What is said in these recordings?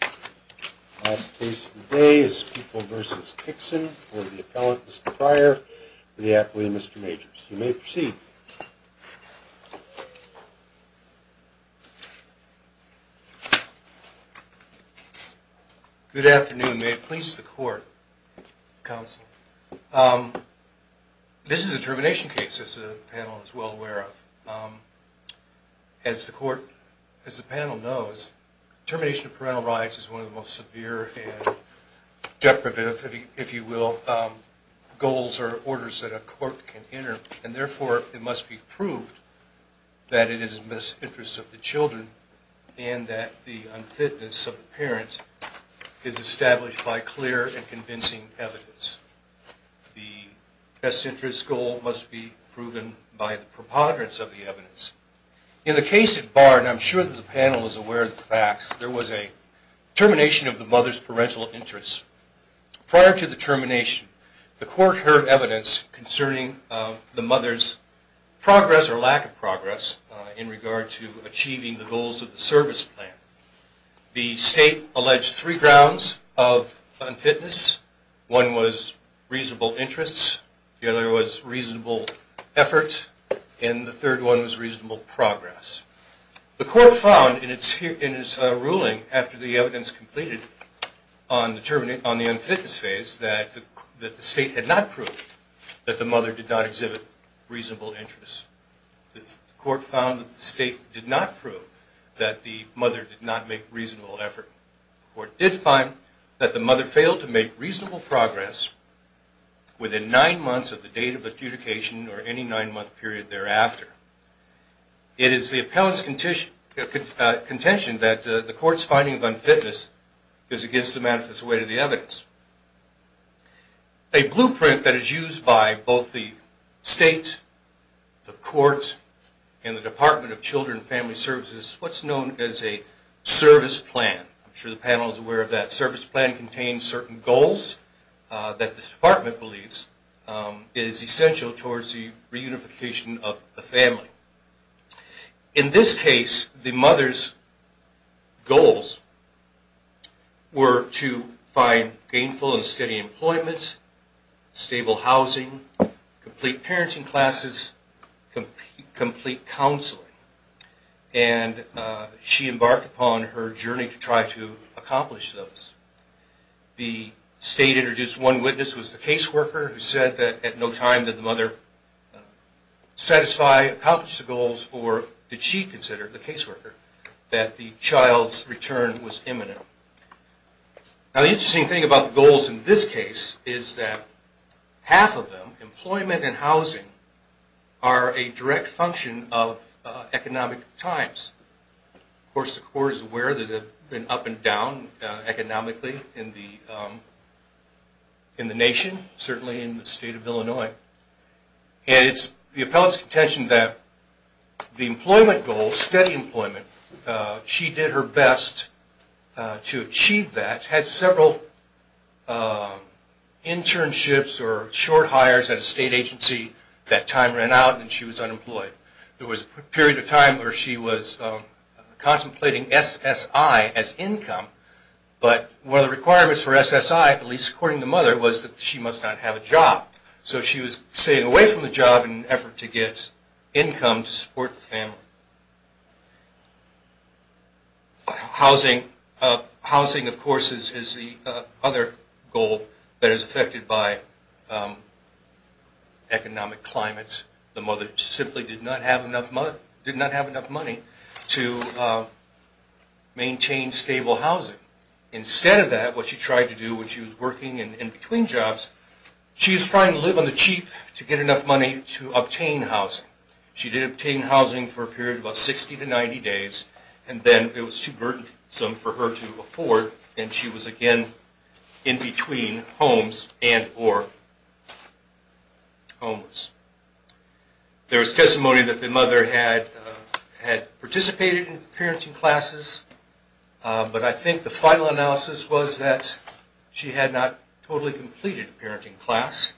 The last case of the day is People v. Tickson for the appellant, Mr. Pryor, for the athlete, Mr. Majors. You may proceed. Good afternoon. May it please the court, counsel. This is a termination case, as the panel is well aware of. As the panel knows, termination of parental rights is one of the most severe and deprivative, if you will, goals or orders that a court can enter, and therefore it must be proved that it is in the best interest of the children and that the unfitness of the parent is established by clear and convincing evidence. The best interest goal must be proven by the preponderance of the evidence. In the case at Bard, and I'm sure that the panel is aware of the facts, there was a termination of the mother's parental interest. Prior to the termination, the court heard evidence concerning the mother's progress or lack of progress in regard to achieving the goals of the service plan. The state alleged three grounds of unfitness. One was reasonable interests, the other was reasonable effort, and the third one was reasonable progress. The court found in its ruling, after the evidence completed on the unfitness phase, that the state had not proved that the mother did not exhibit reasonable interest. The court found that the state did not prove that the mother did not make reasonable effort. The court did find that the mother failed to make reasonable progress within nine months of the date of adjudication or any nine month period thereafter. It is the appellant's contention that the court's finding of unfitness is against the manifest way to the evidence. A blueprint that is used by both the state, the courts, and the Department of Children and Family Services is what's known as a service plan. I'm sure the panel is aware of that. Service plan contains certain goals that the department believes is essential towards the reunification of the family. In this case, the mother's goals were to find gainful and steady employment, stable housing, complete parenting classes, complete counseling, and she embarked upon her journey to try to accomplish those. The state introduced one witness who was the caseworker who said that at no time did the mother satisfy, accomplish the goals, or did she consider, the caseworker, that the child's return was imminent. Now the interesting thing about the goals in this case is that half of them, employment and housing, are a direct function of economic times. Of course the court is aware that it has been up and down economically in the nation, certainly in the state of Illinois. It's the appellate's contention that the employment goal, steady employment, she did her best to achieve that, had several internships or short hires at a state agency, that time ran out and she was unemployed. There was a period of time where she was contemplating SSI as income, but one of the requirements for SSI, at least according to the mother, was that she must not have a job. So she was staying away from the job in an effort to get income to support the family. Housing, of course, is the other goal that is affected by economic climates. The mother simply did not have enough money to maintain stable housing. Instead of that, what she tried to do when she was working in between jobs, she was trying to live on the cheap to get enough money to obtain housing. She did obtain housing for a period of about 60 to 90 days and then it was too burdensome for her to afford and she was again in between homes and or homeless. There was testimony that the mother had participated in parenting classes, but I think the final analysis was that she had not totally completed a parenting class.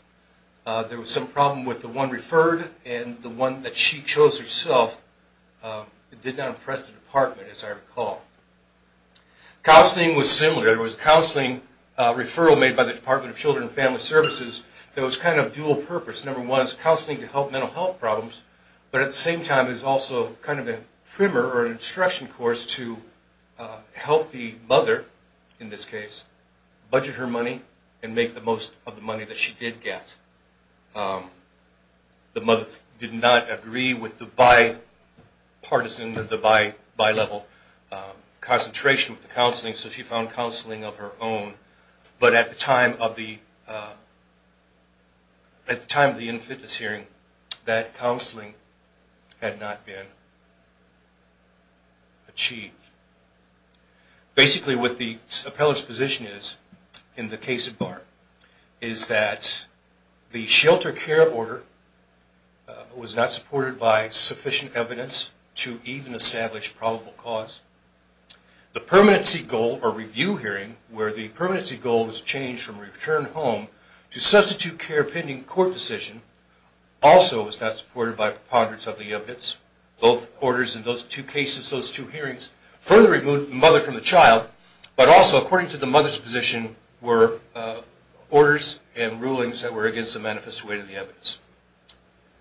There was some problem with the one referred and the one that she chose herself did not impress the department, as I recall. Counseling was similar. There was a counseling referral made by the Department of Children and Family Services that was kind of dual purpose. Number one is counseling to help mental health problems, but at the same time is also kind of a primer or an instruction course to help the mother, in this case, budget her money and make the most of the money that she did get. The mother did not agree with the bipartisan, the bi-level concentration with the counseling, so she found counseling of her own, but at the time of the in-fitness hearing, that counseling had not been achieved. Basically what the appellate's position is in the case of BART is that the shelter care order was not supported by sufficient evidence to even establish probable cause. The permanency goal or review hearing where the permanency goal was changed from return home to substitute care pending court decision also was not supported by preponderance of the evidence. Both orders in those two cases, those two hearings, further removed the mother from the child, but also according to the mother's position were orders and rulings that were against the manifest weight of the evidence.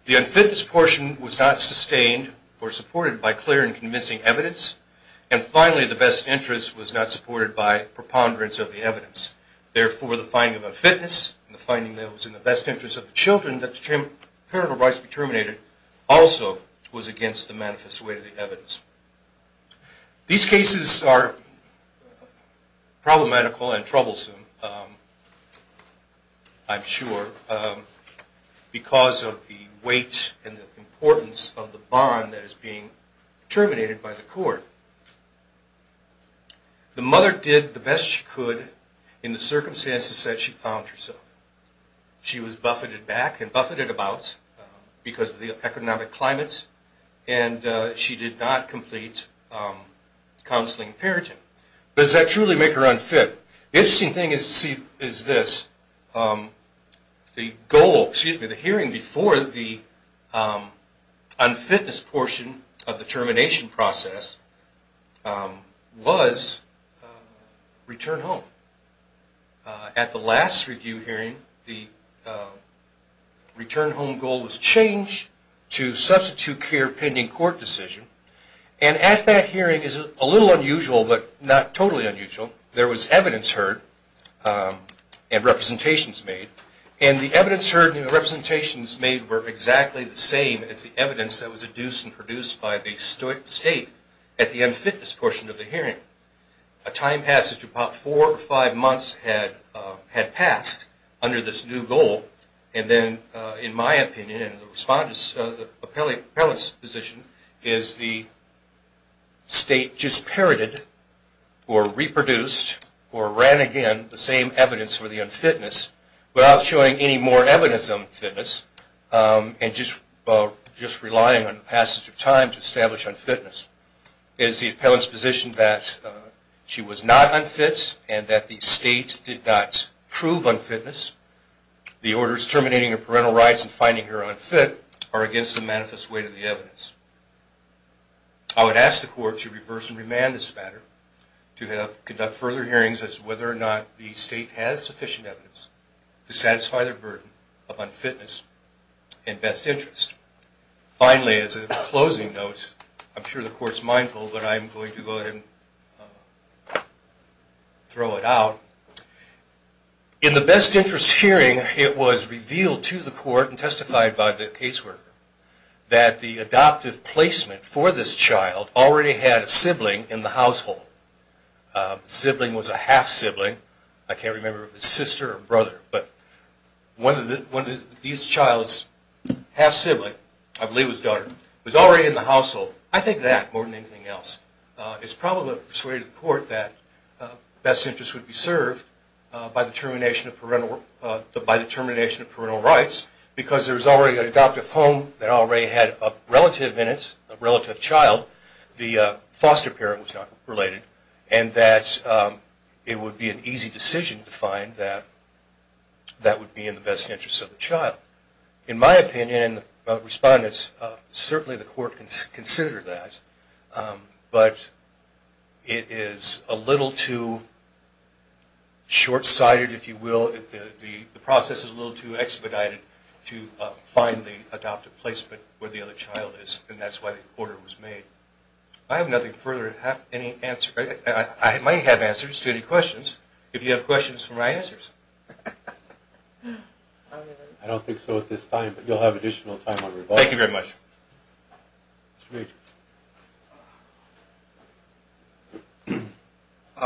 The in-fitness portion was not sustained or supported by clear and convincing evidence, and finally the best interest was not supported by preponderance of the evidence, therefore the finding of a fitness and the finding that it was in the best interest of the children that the parental rights be terminated also was against the manifest weight of the evidence. These cases are problematical and troublesome, I'm sure, because of the weight and the importance of the bond that is being terminated by the court. The mother did the best she could in the circumstances that she found herself. She was buffeted back and buffeted about because of the economic climates, and she did not complete counseling and parenting, but does that truly make her unfit? The interesting thing is this, the hearing before the unfitness portion of the termination process was return home. At the last review hearing, the return home goal was changed to substitute clear pending court decision, and at that hearing it was a little unusual, but not totally unusual. There was evidence heard and representations made, and the evidence heard and the representations made were exactly the same as the evidence that was produced by the state at the unfitness portion of the hearing. A time passage of about four or five months had passed under this new goal, and then in my opinion, the appellate's position is the state just parroted or reproduced or ran again the same evidence for the unfitness without showing any more evidence of unfitness, and just relying on the passage of time to establish unfitness, is the appellate's position that she was not unfit and that the state did not prove unfitness. The orders terminating her parental rights and finding her unfit are against the manifest weight of the evidence. I would ask the court to reverse and remand this matter, to conduct further hearings as to whether or not the state has sufficient evidence to satisfy their burden of unfitness and best interest. Finally, as a closing note, I'm sure the court's mindful, but I'm going to go ahead and throw it out. In the best interest hearing, it was revealed to the court and testified by the caseworker that the adoptive placement for this child already had a sibling in the household. The sibling was a half-sibling, I can't remember if it was a sister or brother, but one of these child's half-sibling, I believe it was a daughter, was already in the household. I think that, more than anything else, is probably what persuaded the court that best interest would be served by the termination of parental rights because there was already an adoptive home that already had a relative in it, a relative child. The foster parent was not related and that it would be an easy decision to find that that would be in the best interest of the child. In my opinion, the respondents, certainly the court can consider that, but it is a little too short-sighted, if you will, the process is a little too expedited to find the adoptive placement where the other child is, and that's why the order was made. I have nothing further to add, I might have answers to any questions, if you have questions for my answers. I don't think so at this time, but you'll have additional time on rebuttal. Thank you very much.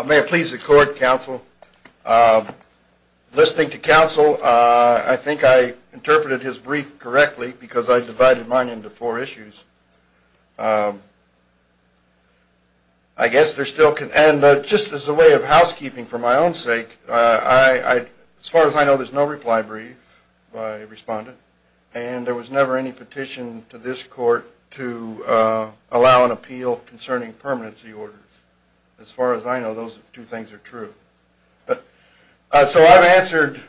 May I please the court, counsel? Listening to counsel, I think I interpreted his brief correctly because I divided mine into four issues. I guess there still can, and just as a way of housekeeping for my own sake, as far as I know, there's no reply brief by a respondent, and there was never any petition to this court to allow an appeal concerning permanency orders. As far as I know, those two things are true. So I've answered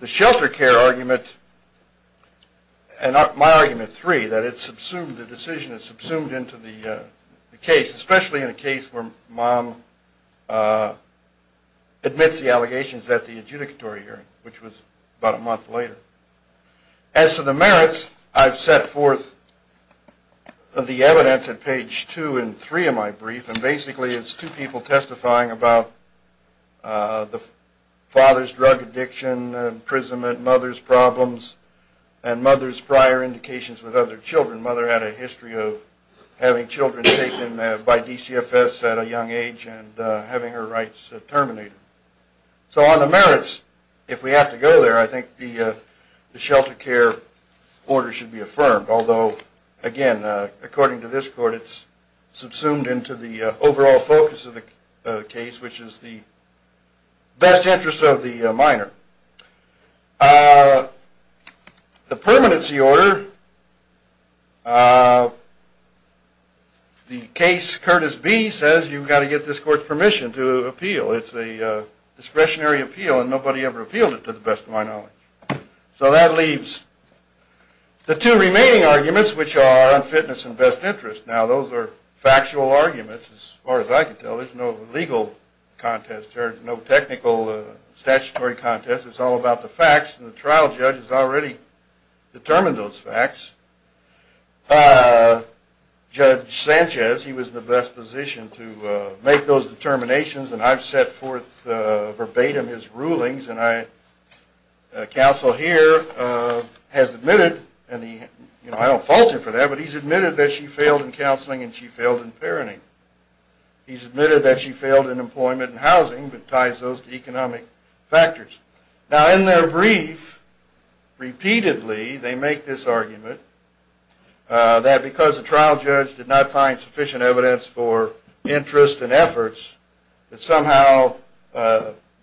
the shelter care argument, and my argument three, that the decision is subsumed into the case, especially in a case where mom admits the allegations at the adjudicatory hearing, which was about a month later. As to the merits, I've set forth the evidence at page two and three of my brief, and basically it's two people testifying about the father's drug addiction, imprisonment, mother's problems, and mother's prior indications with other children. Mother had a history of having children taken by DCFS at a young age and having her rights terminated. So on the merits, if we have to go there, I think the shelter care order should be affirmed, although again, according to this court, it's subsumed into the overall focus of the case, which is the best interest of the minor. The permanency order, the case Curtis B says you've got to get this court's permission to appeal. It's a discretionary appeal, and nobody ever appealed it, to the best of my knowledge. So that leaves the two remaining arguments, which are unfitness and best interest. Now those are factual arguments, as far as I can tell, there's no legal contest, there's no technical statutory contest, it's all about the facts, and the trial judge has already determined those facts. Judge Sanchez, he was in the best position to make those determinations, and I've set forth verbatim his rulings, and counsel here has admitted, and I don't fault him for that, but he's admitted that she failed in counseling and she failed in parenting. He's admitted that she failed in employment and housing, but ties those to economic factors. Now in their brief, repeatedly they make this argument, that because the trial judge did not find sufficient evidence for interest and efforts, that somehow,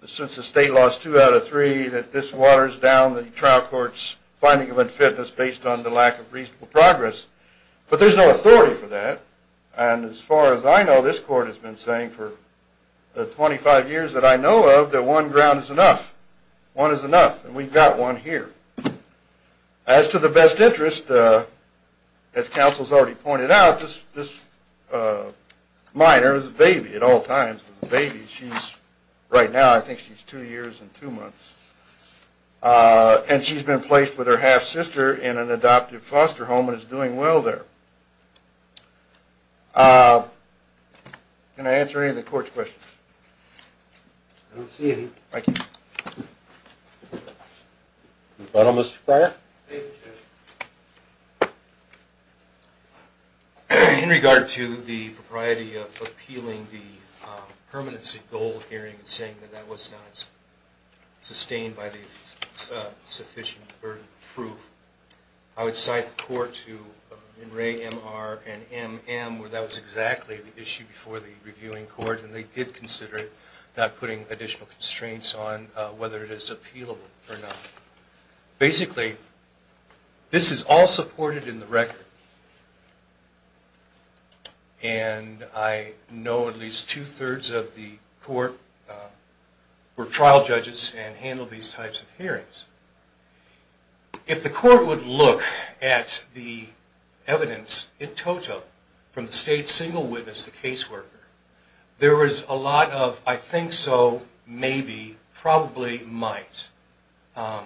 since the state lost two out of three, that this waters down the trial court's finding of unfitness based on the lack of reasonable progress, but there's no authority for that, and as far as I know this court has been saying for the 25 years that I know of, that one ground is enough, one is enough, and we've got one here. As to the best interest, as counsel's already pointed out, this minor is a baby at all times, a baby, she's, right now I think she's two years and two months, and she's been placed with her half-sister in an adoptive foster home and is doing well there. Can I answer any of the court's questions? I don't see any. Thank you. The gentleman in the front. In regard to the propriety of appealing the permanency goal hearing and saying that that it's not sustained by the sufficient proof, I would cite the court in Ray, MR, and MM where that was exactly the issue before the reviewing court, and they did consider it, not putting additional constraints on whether it is appealable or not. Basically, this is all supported in the record, and I know at least two-thirds of the court were trial judges and handled these types of hearings. If the court would look at the evidence in total from the state single witness, the caseworker, there was a lot of, I think so, maybe, probably, might, and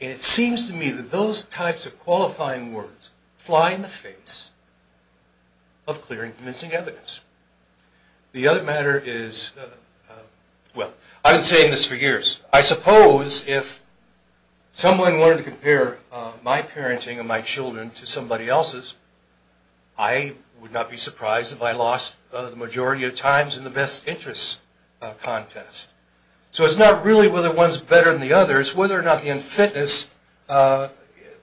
it seems to me that those types of qualifying words fly in the face of clear and convincing evidence. The other matter is, well, I've been saying this for years, I suppose if someone wanted to compare my parenting of my children to somebody else's, I would not be surprised if I lost the majority of times in the best interest contest. So it's not really whether one's better than the other, it's whether or not the unfitness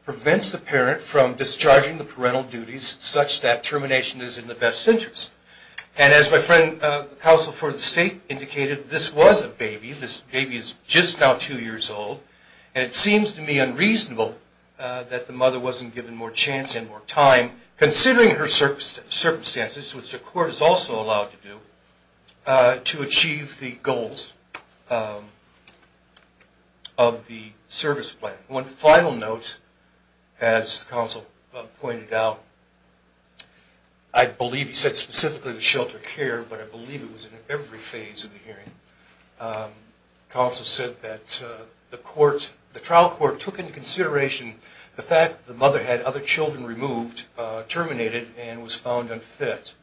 prevents the parent from discharging the parental duties such that termination is in the best interest, and as my friend, the counsel for the state, indicated, this was a baby, this baby is just now two years old, and it seems to me unreasonable that the mother wasn't given more chance and more time, considering her circumstances, which the court is also allowed to do, to achieve the goals of the service plan. One final note, as the counsel pointed out, I believe he said specifically the shelter care, but I believe it was in every phase of the hearing, counsel said that the trial court took into consideration the fact that the mother had other children removed, terminated, and was found unfit.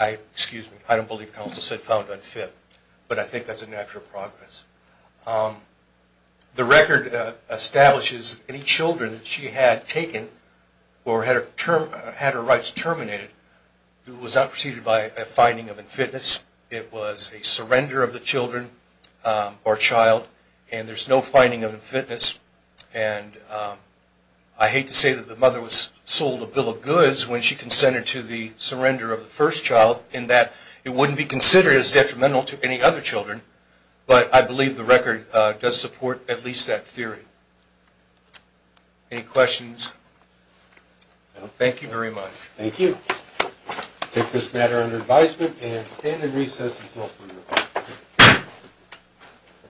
Excuse me, I don't believe counsel said found unfit, but I think that's a natural progress. The record establishes any children that she had taken or had her rights terminated, it was not preceded by a finding of unfitness, it was a surrender of the children or child, and there's no finding of unfitness, and I hate to say that the mother was sold a bill of goods when she consented to the surrender of the first child, in that it wouldn't be considered as detrimental to any other children, but I believe the record does support at least that theory. Any questions? Thank you very much. Thank you. I take this matter under advisement and stand in recess until approval.